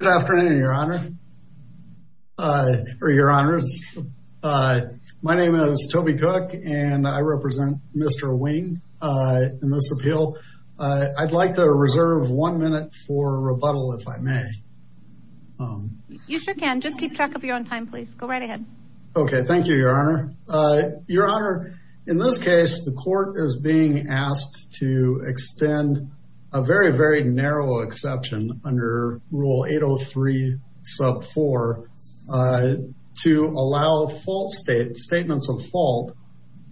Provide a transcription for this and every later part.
Good afternoon, Your Honor, or Your Honors. My name is Toby Cook, and I represent Mr. Wing in this appeal. I'd like to reserve one minute for rebuttal, if I may. You sure can. Just keep track of your own time, please. Go right ahead. Okay, thank you, Your Honor. Your Honor, in this case, the court is being asked to extend a very, very narrow exception under Rule 803, Sub 4, to allow statements of fault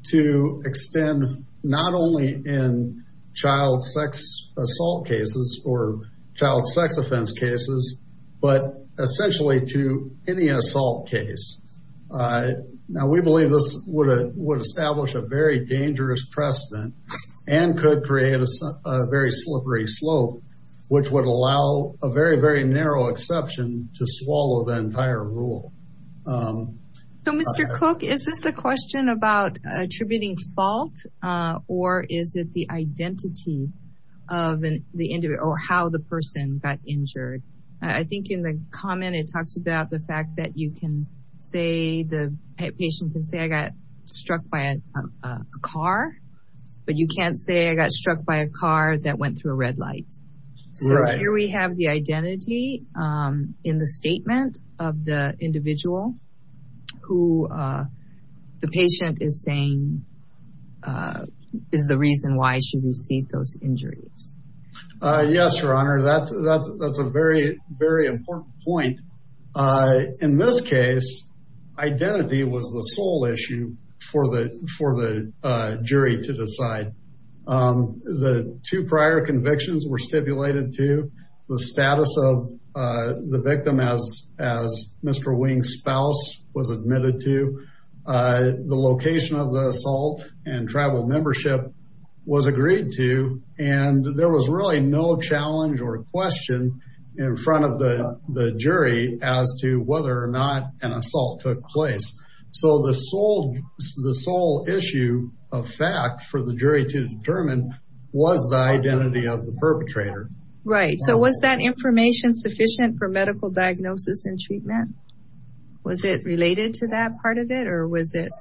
to extend not only in child sex assault cases or child sex offense cases, but essentially to any assault case. Now, we believe this would establish a very dangerous precedent and could create a very slippery slope, which would allow a very, very narrow exception to swallow the entire rule. So, Mr. Cook, is this a question about attributing fault, or is it the identity of the individual, or how the person got injured? I think in the comment, it talks about the fact that you can say, the patient can say, I got struck by a car, but you can't say I got struck by a car that went through a red light. Right. So, here we have the identity in the statement of the individual who the patient is saying is the reason why she received those injuries. Yes, Your Honor, that's a very, very important point. In this case, identity was the sole issue for the jury to decide. The two prior convictions were stipulated to the status of the victim as Mr. Wing's spouse was admitted to. The location of the assault and tribal membership was agreed to, and there was really no challenge or question in front of the jury as to whether or not an the sole issue of fact for the jury to determine was the identity of the perpetrator. Right. So, was that information sufficient for medical diagnosis and treatment? Was it related to that part of it, or was it?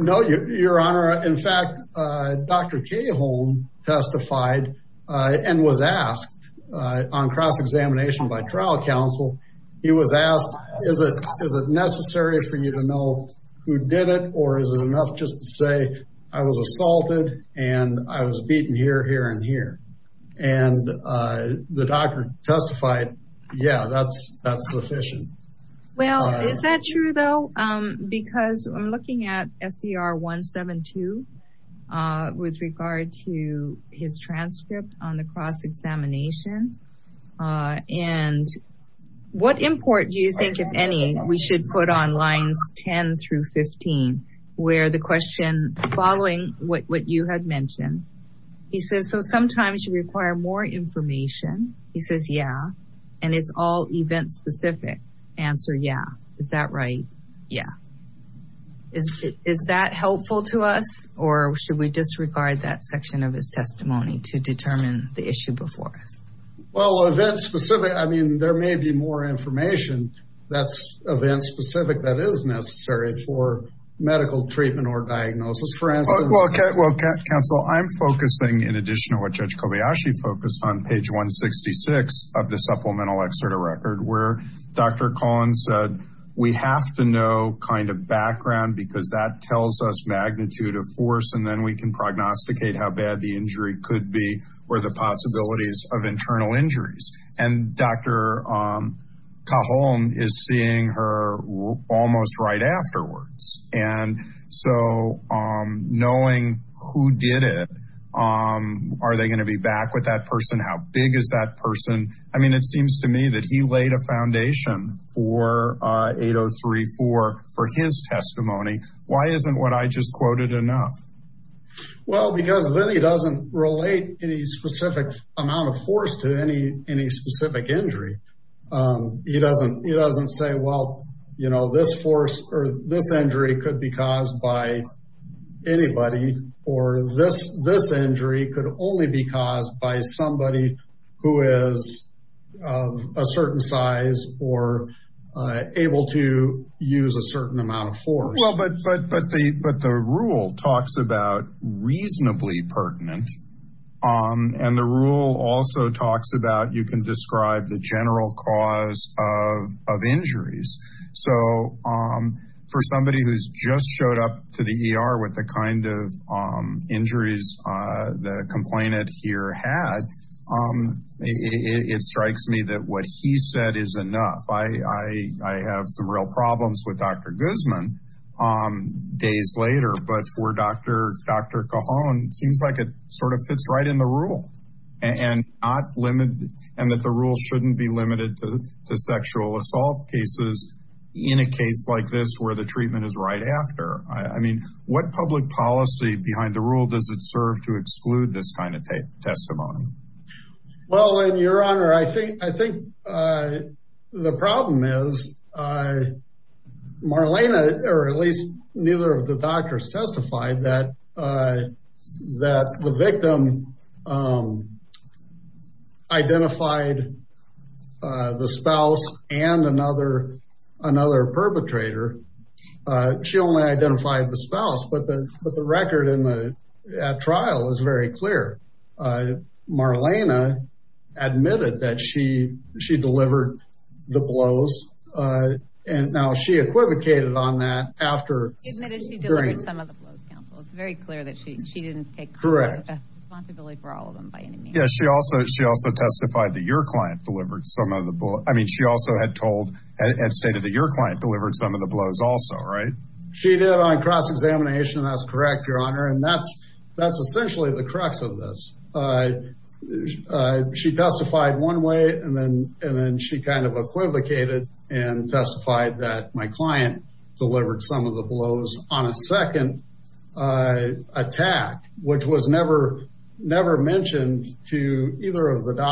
No, Your Honor. In fact, Dr. Caholm testified and was asked on cross-examination by trial counsel. He was asked, is it necessary for you to know who did it, or is it enough just to say I was assaulted and I was beaten here, here, and here? And the doctor testified, yeah, that's sufficient. Well, is that true though? Because I'm looking at SCR 172 with regard to his transcript on the cross-examination. And what import do you think, if any, we should put on lines 10 through 15, where the question following what you had mentioned, he says, so sometimes you require more information. He says, yeah, and it's all event-specific. Answer, yeah. Is that right? Yeah. Is that helpful to us, or should we disregard that section of his testimony to determine the issue before us? Well, event-specific, I mean, there may be more information that's event-specific that is necessary for medical treatment or diagnosis, for instance. Well, counsel, I'm focusing, in addition to what Judge Kobayashi focused on, page 166 of the supplemental exerta record, where Dr. Collins said, we have to know kind of background because that tells us magnitude of force, and then we can prognosticate how bad the injury could be or the possibilities of internal injuries. And Dr. Cajon is seeing her almost right afterwards. And so knowing who did it, are they going to be back with that person? How big is that person? I mean, it seems to me that he laid a foundation for 8034 for his testimony. Why isn't what I just quoted enough? Well, because then he doesn't relate any specific amount of force to any specific injury. He doesn't say, well, you know, this force or this injury could be caused by anybody, or this injury could only be caused by somebody who is of a certain or able to use a certain amount of force. Well, but the rule talks about reasonably pertinent. And the rule also talks about you can describe the general cause of injuries. So for somebody who's just showed up to the ER with the kind of injuries the complainant here had, it strikes me that what he said is enough. I have some real problems with Dr. Guzman days later, but for Dr. Cajon, it seems like it sort of fits right in the rule and that the rule shouldn't be limited to sexual assault cases in a case like this where the treatment is right after. I mean, what public policy behind the rule does it serve to exclude this kind of testimony? Well, and your honor, I think the problem is Marlena, or at least neither of the doctors testified that the victim identified the spouse and another perpetrator. She only identified the spouse, but the record at trial is very clear. Marlena admitted that she delivered the blows. And now she equivocated on that after. It's very clear that she didn't take responsibility for all of them by any means. Yes, she also testified that your client delivered some of the blows. I mean, she also had told, had stated that your client delivered some of also, right? She did on cross-examination. That's correct, your honor. And that's essentially the crux of this. She testified one way and then she kind of equivocated and testified that my client delivered some of the blows on a second attack, which was never mentioned to either of the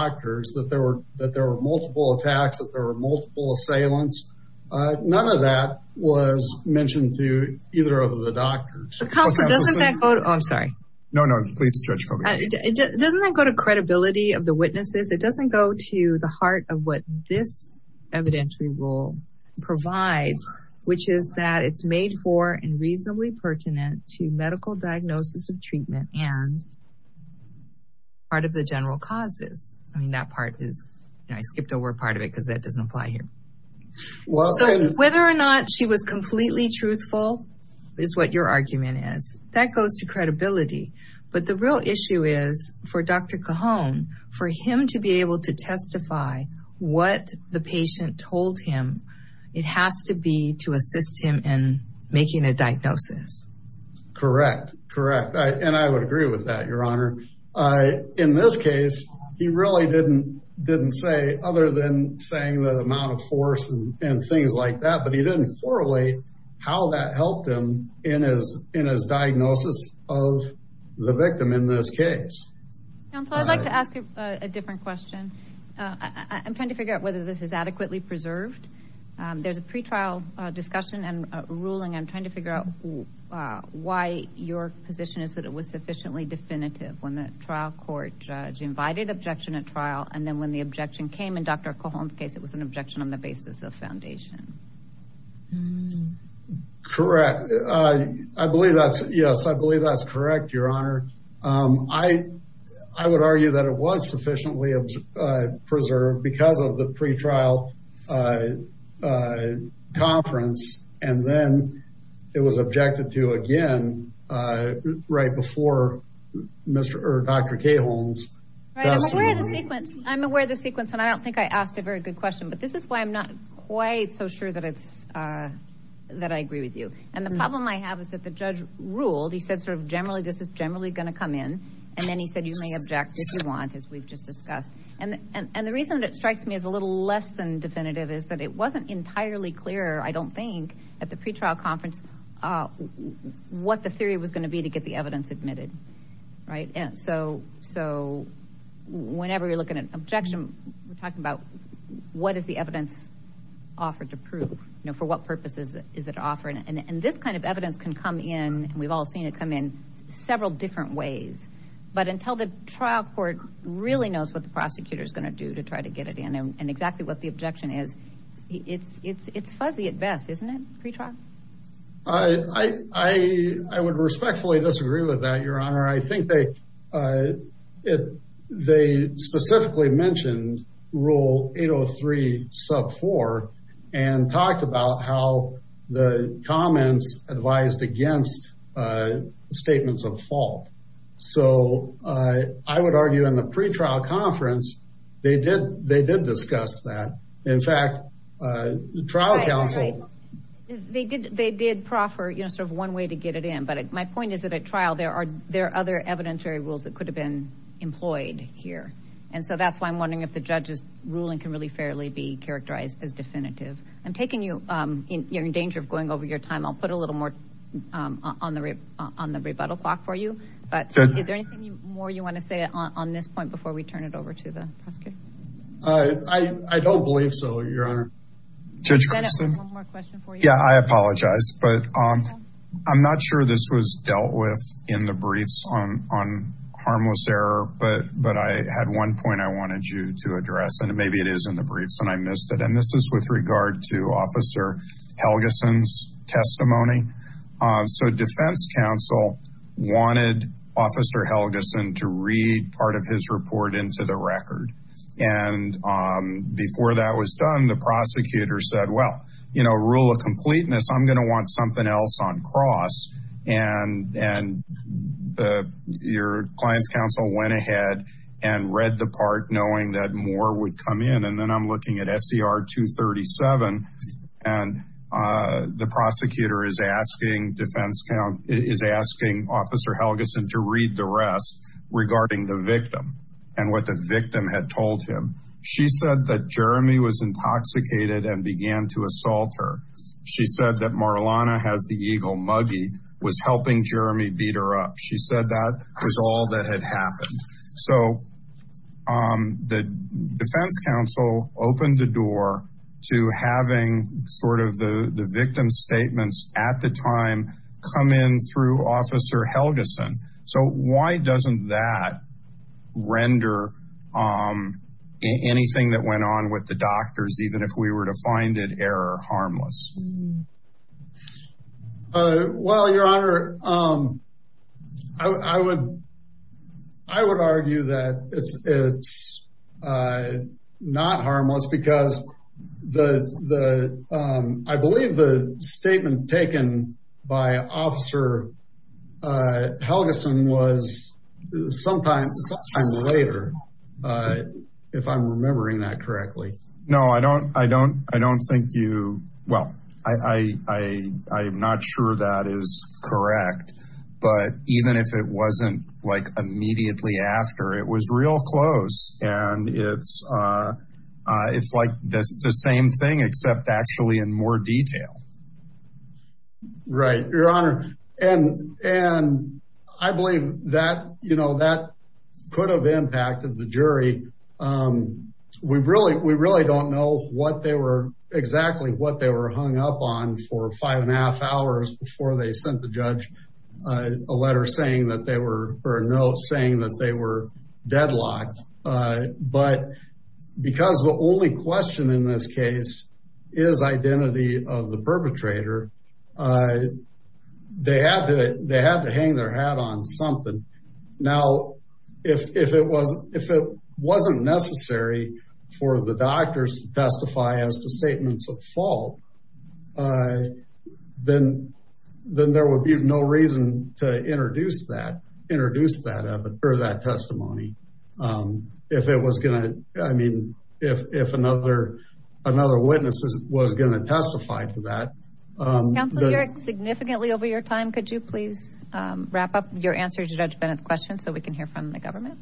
was mentioned to either of the doctors. Oh, I'm sorry. No, no, please stretch. Doesn't that go to credibility of the witnesses? It doesn't go to the heart of what this evidentiary rule provides, which is that it's made for and reasonably pertinent to medical diagnosis of treatment and part of the general causes. I mean, that part is, you know, I skipped over a part of that because that doesn't apply here. So whether or not she was completely truthful is what your argument is. That goes to credibility. But the real issue is for Dr. Cajon, for him to be able to testify what the patient told him, it has to be to assist him in making a diagnosis. Correct. Correct. And I would agree with that, your honor. In this case, he really didn't say other than saying the amount of force and things like that, but he didn't correlate how that helped him in his diagnosis of the victim in this case. Counselor, I'd like to ask a different question. I'm trying to figure out whether this is adequately preserved. There's a pretrial discussion and ruling. I'm trying to figure out why your position is that it was sufficiently definitive when the trial court judge invited objection at trial. And then when the objection came in Dr. Cajon's case, it was an objection on the basis of foundation. Correct. I believe that's, yes, I believe that's correct, your honor. I would argue that it was sufficiently preserved because of the pretrial conference. And then it was objected to again, right before Dr. Cajon's. Right. I'm aware of the sequence and I don't think I asked a very good question, but this is why I'm not quite so sure that it's, that I agree with you. And the problem I have is that the judge ruled, he said sort of generally, this is generally going to come in. And then he said, you may object if you want, as we've just discussed. And the reason that it strikes me as a little less than definitive is that it wasn't entirely clear, I don't think, at the pretrial conference, uh, what the theory was going to be to get the evidence admitted. Right. And so, so whenever you're looking at an objection, we're talking about what is the evidence offered to prove, you know, for what purposes is it offered? And this kind of evidence can come in and we've all seen it come in several different ways, but until the trial court really knows what the prosecutor is going to do to try to get it in and exactly what the objection is, it's, it's, it's fuzzy at best, isn't it, pretrial? I, I, I would respectfully disagree with that, your honor. I think they, uh, it, they specifically mentioned rule 803 sub four and talked about how the comments advised against, uh, statements of fault. So, uh, I would argue in the pretrial conference, they did, they did discuss that. In fact, uh, trial counsel, they did, they did proffer, you know, sort of one way to get it in. But my point is that at trial, there are, there are other evidentiary rules that could have been employed here. And so that's why I'm wondering if the judge's ruling can really fairly be characterized as definitive. I'm taking you, um, you're in danger of going over your time. I'll put a little more, um, on the, on the rebuttal clock for you, but is there anything more you want to say on this point before we turn it over to the prosecutor? Uh, I, I don't believe so, your honor. Judge Christin. Yeah, I apologize, but, um, I'm not sure this was dealt with in the briefs on, on harmless error, but, but I had one point I wanted you to address and maybe it is in the briefs and I missed it. And this is with regard to officer Helgeson's testimony. Um, so defense counsel wanted officer Helgeson to read part of his report into the record. And, um, before that was done, the prosecutor said, well, you know, rule of completeness, I'm going to want something else on cross. And, and the, your client's counsel went ahead and read the part knowing that more would come in. And then I'm looking at SCR 237 and, uh, the prosecutor is asking defense count is asking officer Helgeson to read the rest regarding the victim and what the victim had told him. She said that Jeremy was intoxicated and began to assault her. She said that Marlana has the Eagle muggy was helping Jeremy beat her up. She said that was all that had happened. So, um, the defense counsel opened the door to having sort of the, the victim's statements at the time come in through officer Helgeson. So why doesn't that render, um, anything that went on with the doctors, even if we were to find it error harmless? Uh, well, your honor, um, I would, I would argue that it's, it's, uh, not harmless because the, the, um, I believe the statement taken by officer, uh, Helgeson was sometime later, uh, if I'm remembering that correctly. No, I don't, I don't, I don't think you, well, I, I, I, I'm not sure that is correct, but even if it wasn't like immediately after it was real close and it's, uh, uh, it's like this, the same thing except actually in more detail. Right. Your honor. And, and I believe that, you know, that could have impacted the jury. Um, we really, we really don't know what they were exactly what they were hung up on for five and a half hours before they sent the judge a letter saying that they were, or a note saying that they were deadlocked. Uh, but because the only question in this case is identity of the perpetrator, uh, they had to, they had to hang their hat on something. Now, if, if it wasn't, if it wasn't necessary for the doctors to testify as to statements of fault, uh, then, then there would be no reason to introduce that, introduce that evidence or that testimony. Um, if it was going to, I mean, if, if another, another witness was going to testify to that. Counselor Yerrick, significantly over your time, could you please, um, wrap up your answer to Judge Bennett's question so we can hear from the government?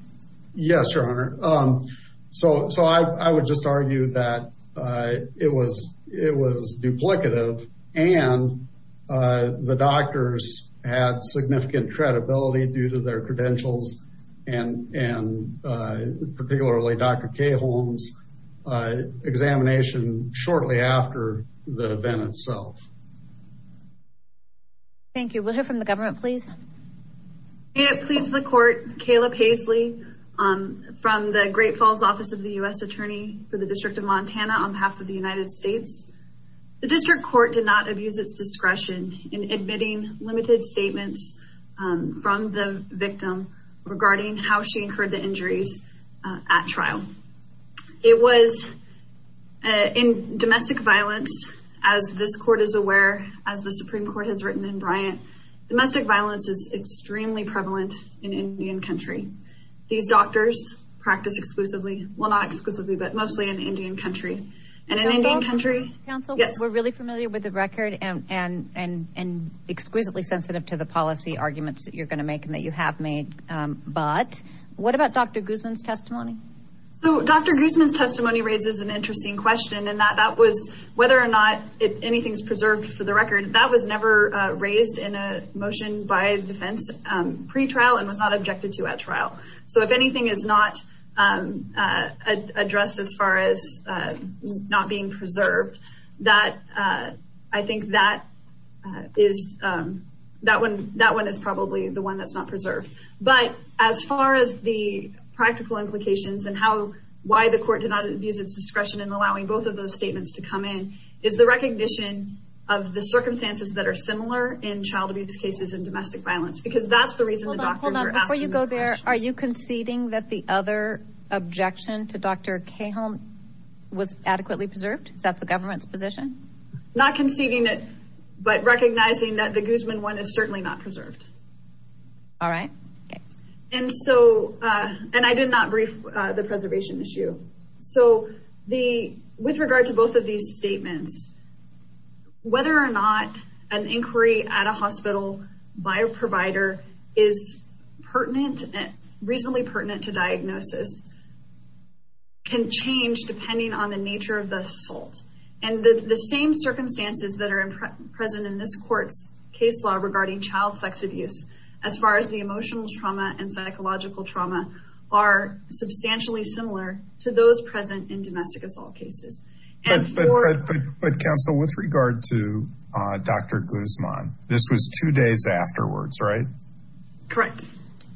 Yes, your honor. Um, so, so I, I would just argue that, uh, it was, it was duplicative and, uh, the doctors had significant credibility due to their credentials and, and, uh, particularly Dr. Caholm's, uh, examination shortly after the event itself. Thank you. We'll hear from the government, please. May it please the court, Kayla Paisley, um, from the Great Falls office of the U.S. attorney for the district of Montana on behalf of the United States. The district court did not abuse its statements, um, from the victim regarding how she incurred the injuries, uh, at trial. It was, uh, in domestic violence, as this court is aware, as the Supreme Court has written in Bryant, domestic violence is extremely prevalent in Indian country. These doctors practice exclusively, well, not exclusively, but mostly in Indian country and in Indian country. Counsel, we're really familiar with the record and, and, and, and exquisitely sensitive to the policy arguments that you're going to make and that you have made. Um, but what about Dr. Guzman's testimony? So Dr. Guzman's testimony raises an interesting question and that, that was whether or not if anything's preserved for the record, that was never, uh, raised in a motion by defense, um, pretrial and was not objected to at trial. So if anything is not, um, uh, addressed as far as, not being preserved, that, uh, I think that, uh, is, um, that one, that one is probably the one that's not preserved, but as far as the practical implications and how, why the court did not use its discretion in allowing both of those statements to come in is the recognition of the circumstances that are similar in child abuse cases and domestic violence, because that's the reason. Before you go there, are you conceding that the other objection to Dr. Cahill was adequately preserved? Is that the government's position? Not conceding it, but recognizing that the Guzman one is certainly not preserved. All right. And so, uh, and I did not brief, uh, the preservation issue. So the, with regard to both of these statements, whether or not an inquiry at a pertinent, reasonably pertinent to diagnosis can change depending on the nature of the assault. And the same circumstances that are present in this court's case law regarding child sex abuse, as far as the emotional trauma and psychological trauma are substantially similar to those present in domestic assault cases. But counsel, with regard to, uh, Dr. Guzman, this was two days afterwards, right? Correct.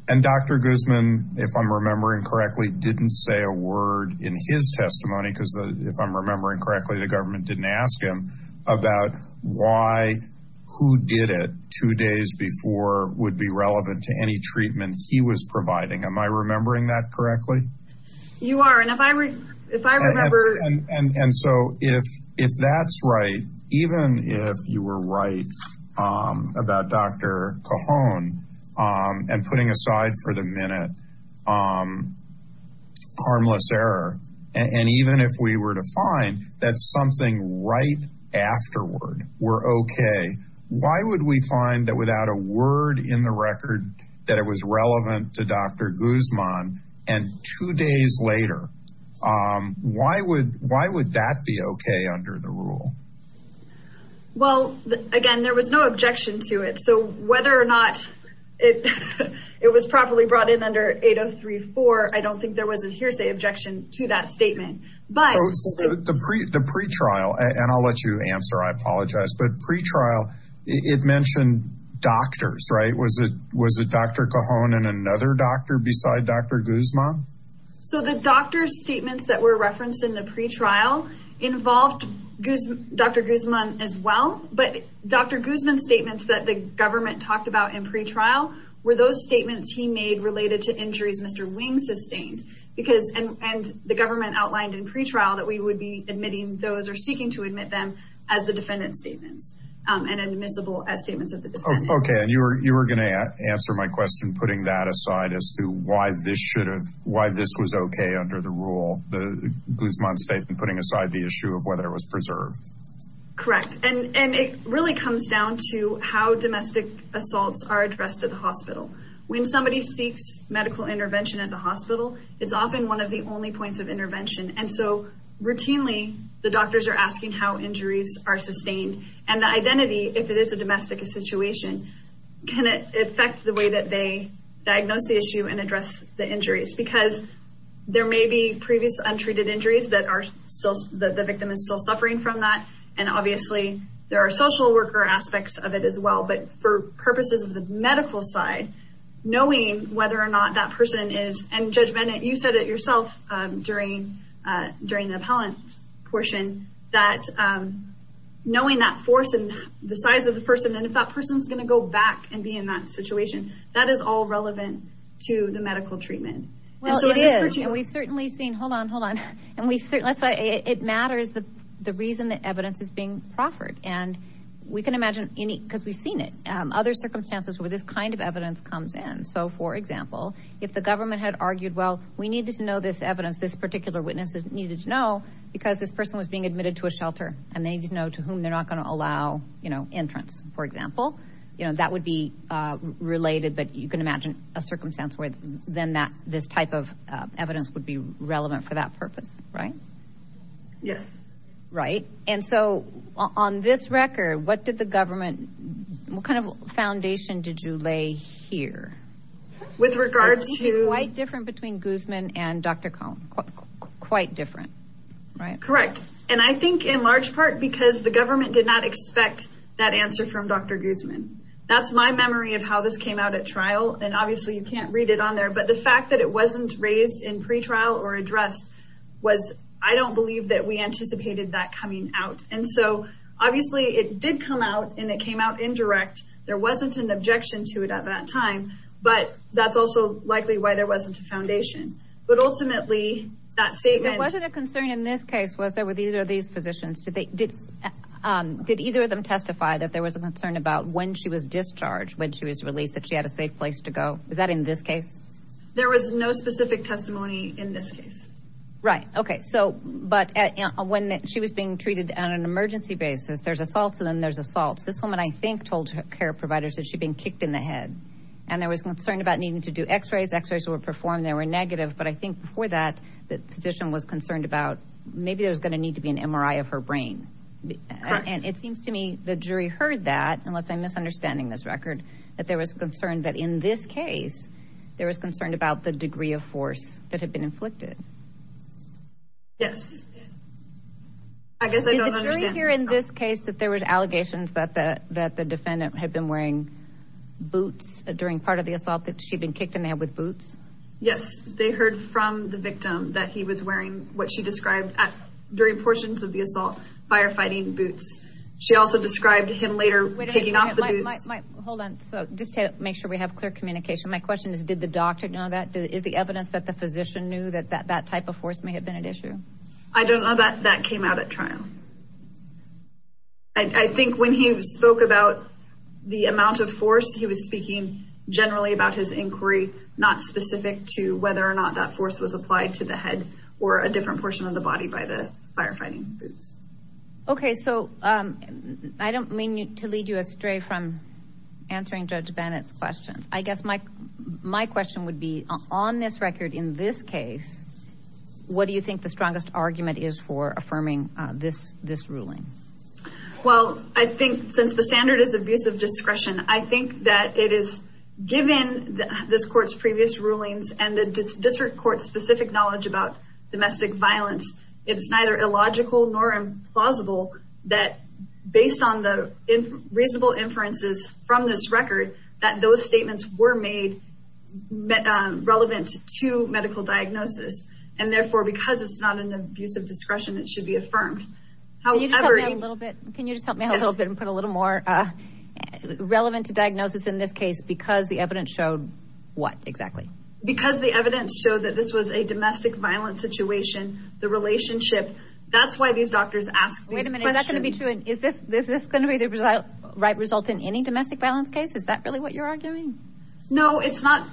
And Dr. Guzman, if I'm remembering correctly, didn't say a word in his testimony, because if I'm remembering correctly, the government didn't ask him about why, who did it two days before would be relevant to any treatment he was providing. Am I remembering that correctly? You are. And if I, if I remember. And, and, and so if, if that's right, even if you were right, um, about Dr. Cajon, um, and putting aside for the minute, um, harmless error, and even if we were to find that something right afterward were okay, why would we find that without a word in the record that it was relevant to Dr. Guzman and two days later, um, why would, why would that be okay under the rule? Well, again, there was no objection to it. So whether or not it, it was properly brought in under 8034, I don't think there was a hearsay objection to that statement, but the pre the pretrial, and I'll let you answer, I apologize, but pretrial, it mentioned doctors, right? Was it, was it Dr. Cajon and another doctor beside Dr. Guzman? So the doctor's statements that were referenced in the pretrial involved Dr. Guzman as well, but Dr. Guzman's statements that the government talked about in pretrial were those statements he made related to injuries Mr. Wing sustained because, and, and the government outlined in pretrial that we would be admitting those or seeking to admit them as the defendant's statements, um, and admissible as statements of Okay. And you were, you were going to answer my question, putting that aside as to why this should have, why this was okay under the rule, the Guzman statement, putting aside the issue of whether it was preserved. Correct. And, and it really comes down to how domestic assaults are addressed at the hospital. When somebody seeks medical intervention at the hospital, it's often one of the only points of intervention. And so routinely the doctors are asking how the situation, can it affect the way that they diagnose the issue and address the injuries? Because there may be previous untreated injuries that are still, that the victim is still suffering from that. And obviously there are social worker aspects of it as well, but for purposes of the medical side, knowing whether or not that person is, and Judge Bennett, you said it yourself, um, during, uh, during the appellant portion that, um, knowing that force and the size of person. And if that person's going to go back and be in that situation, that is all relevant to the medical treatment. Well, it is. And we've certainly seen, hold on, hold on. And we certainly, that's why it matters. The, the reason that evidence is being proffered and we can imagine any, cause we've seen it, um, other circumstances where this kind of evidence comes in. So for example, if the government had argued, well, we needed to know this evidence, this particular witnesses needed to know because this person was being admitted to a shelter and they didn't know to whom they're not going to allow, you know, entrance, for example, you know, that would be, uh, related, but you can imagine a circumstance where then that this type of, uh, evidence would be relevant for that purpose, right? Yes. Right. And so on this record, what did the government, what kind of foundation did you lay here? With regards to... Quite different between Guzman and Dr. Cohn, quite different, right? Correct. And I think in large part, because the government did not expect that answer from Dr. Guzman. That's my memory of how this came out at trial. And obviously you can't read it on there, but the fact that it wasn't raised in pretrial or address was, I don't believe that we anticipated that coming out. And so obviously it did come out and it came out indirect. There wasn't an objection to it at that time, but that's also likely why there wasn't a foundation, but ultimately that statement... It wasn't a concern in this case, was there with either of these physicians? Did either of them testify that there was a concern about when she was discharged, when she was released, that she had a safe place to go? Is that in this case? There was no specific testimony in this case. Right. Okay. So, but when she was being treated on an emergency basis, there's assaults and then there's assaults. This woman, I think, told her care providers that she'd been kicked in the head and there was concern about needing to do x-rays. X-rays were performed, they were negative. But I think before that, the physician was concerned about maybe there was going to need to be an MRI of her brain. And it seems to me the jury heard that, unless I'm misunderstanding this record, that there was concern that in this case, there was concern about the degree of force that had been inflicted. Yes. I guess I don't understand. Did the jury hear in this case that there was allegations that the defendant had been wearing boots during part of that she'd been kicked in the head with boots? Yes. They heard from the victim that he was wearing what she described at, during portions of the assault, firefighting boots. She also described him later taking off the boots. Hold on. So just to make sure we have clear communication. My question is, did the doctor know that? Is the evidence that the physician knew that that type of force may have been at issue? I don't know that that came out at trial. I think when he spoke about the amount of force, he was speaking generally about his inquiry, not specific to whether or not that force was applied to the head or a different portion of the body by the firefighting boots. Okay. So I don't mean to lead you astray from answering Judge Bennett's questions. I guess my question would be, on this record, in this case, what do you think the strongest argument is for affirming this ruling? Well, I think since the standard is abusive discretion, I think that it is, given this court's previous rulings and the district court's specific knowledge about domestic violence, it's neither illogical nor implausible that based on the reasonable inferences from this record, that those statements were made relevant to medical diagnosis. And therefore, because it's not an abusive discretion, it should be affirmed. Can you just help me a little bit and put a little more, relevant to diagnosis in this case, because the evidence showed what exactly? Because the evidence showed that this was a domestic violence situation, the relationship. That's why these doctors ask these questions. Wait a minute, is that going to be true? Is this going to be the right result in any domestic violence case? Is that really what you're arguing? No, it's not.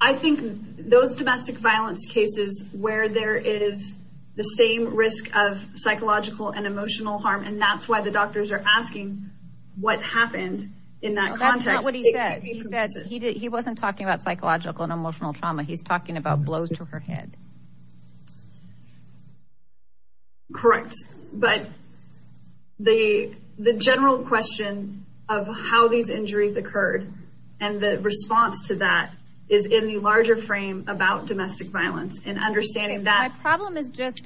I think those domestic violence cases where there is the same risk of psychological and emotional harm, and that's why the doctors are asking what happened in that context. That's not what he said. He said he wasn't talking about psychological and emotional trauma. He's talking about blows to her head. Correct. But the general question of how these injuries occurred and the response to that is in the larger frame about domestic violence and understanding that. Okay,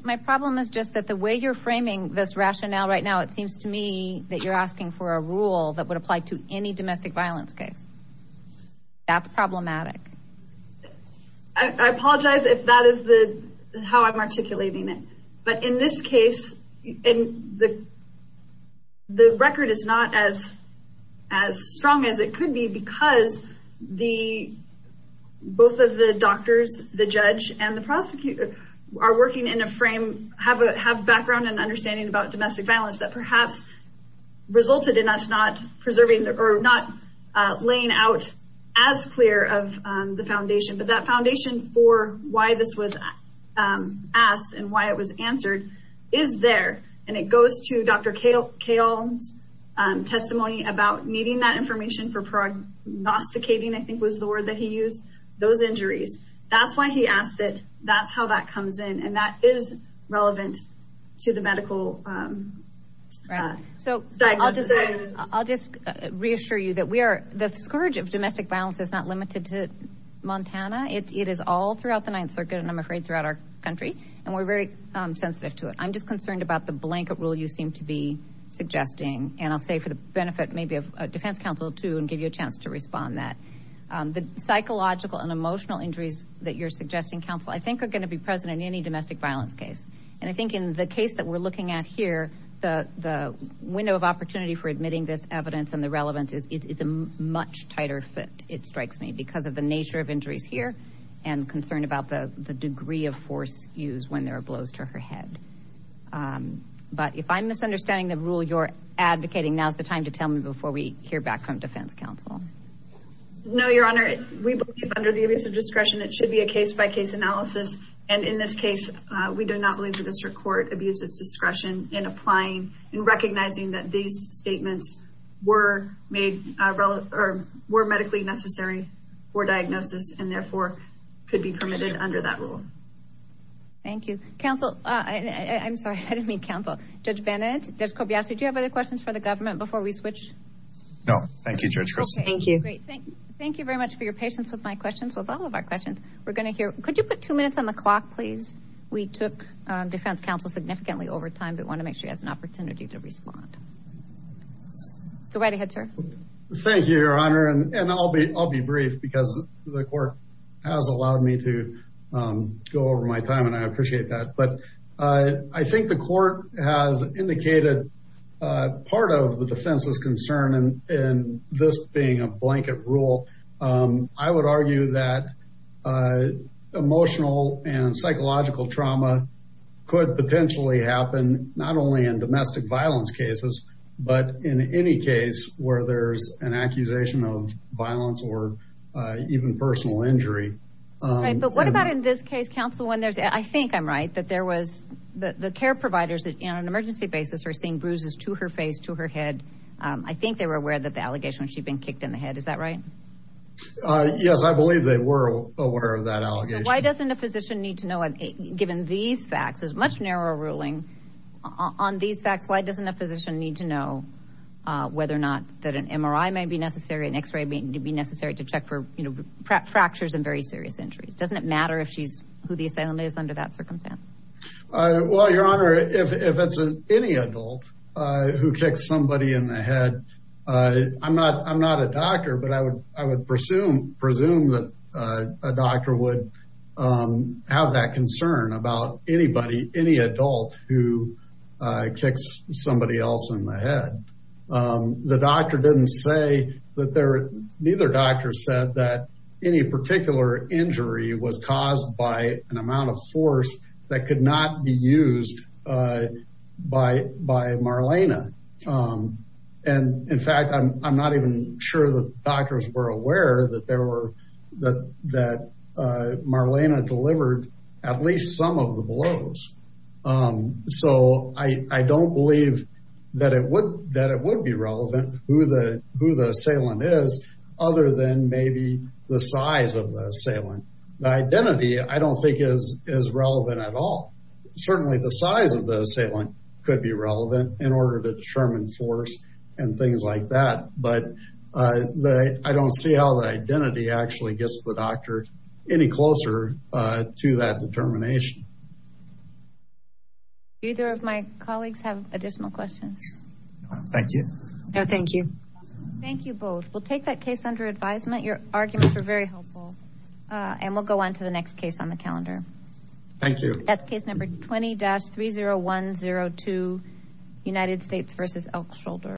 my problem is just that the way you're framing this rationale right now, it seems to me that you're asking for a rule that would apply to any domestic violence case. That's problematic. I apologize if that is how I'm articulating it. But in this case, the record is not as strong as it could be because both of the doctors, the judge and the prosecutor, are working in a frame, have background and understanding about domestic violence that perhaps resulted in us not laying out as clear of the foundation. But that foundation for why this was asked and why it was answered is there. It goes to Dr. Cahill's testimony about needing that information for prognosticating, I think was the word that he used, those injuries. That's why he asked it. That's how that comes in. And that is relevant to the medical diagnosis. I'll just reassure you that the scourge of domestic violence is not limited to Montana. It is all throughout the Ninth Circuit and I'm afraid throughout our country. And we're very sensitive to it. I'm just concerned about the blanket rule you seem to be suggesting. And I'll say for the benefit maybe of defense counsel too and give you a chance to respond on that. The psychological and emotional injuries that you're suggesting, counsel, I think are going to be present in any domestic violence case. And I think in the case that we're looking at here, the window of opportunity for admitting this evidence and the relevance is a much tighter fit, it strikes me, because of the nature of injuries here and concern about the degree of force used when there are blows to her head. But if I'm misunderstanding the rule you're advocating, now's the time to tell me before we hear back from defense counsel. No, Your Honor. We believe under the abuse of discretion it should be a case-by-case analysis. And in this case, we do not believe the district court abused its discretion in applying and recognizing that these statements were medically necessary for diagnosis and therefore could be permitted under that rule. Thank you. Counsel, I'm sorry, I didn't mean counsel. Judge Bennett, Judge Kobayashi, do you have other questions for the government before we switch? No. Thank you, Judge Christy. Thank you. Great. Thank you very much for your patience with my questions, with all of our questions. We're going to hear, could you put two minutes on the clock, please? We took defense counsel significantly over time, but want to make sure he has an opportunity to respond. Go right ahead, sir. Thank you, Your Honor. And I'll be brief because the court has allowed me to go over my time and I appreciate that. But I think the court has indicated part of the defense's concern in this being a blanket rule. I would argue that emotional and psychological trauma could potentially happen not only in domestic violence cases, but in any case where there's an accusation of violence or even personal injury. But what about in this case, counsel, when there's, I think I'm right, that there was the care providers that on an emergency basis are seeing bruises to her face, to her head. I think they were aware that the allegation was she'd been kicked in the head. Is that right? Yes, I believe they were aware of that allegation. Why doesn't a physician need to know, given these facts, there's much narrower ruling on these facts. Why doesn't a physician need to know whether or not that an MRI may be necessary, an X-ray may be necessary to check for, you know, fractures and very serious injuries? Doesn't it matter if she's, the assailant is under that circumstance? Well, your honor, if it's any adult who kicks somebody in the head, I'm not a doctor, but I would presume that a doctor would have that concern about anybody, any adult who kicks somebody else in the head. The doctor didn't say that there, an amount of force that could not be used by Marlena. And in fact, I'm not even sure the doctors were aware that Marlena delivered at least some of the blows. So I don't believe that it would be relevant who the assailant is, other than maybe the size of the assailant. The identity, I don't think is relevant at all. Certainly the size of the assailant could be relevant in order to determine force and things like that. But I don't see how the identity actually gets the doctor any closer to that determination. Either of my colleagues have additional questions. Thank you. No, thank you. Thank you both. We'll take that case under advisement. Your arguments were very helpful. And we'll go on to the next case on the calendar. Thank you. That's case number 20-30102, United States versus Elk Shoulder.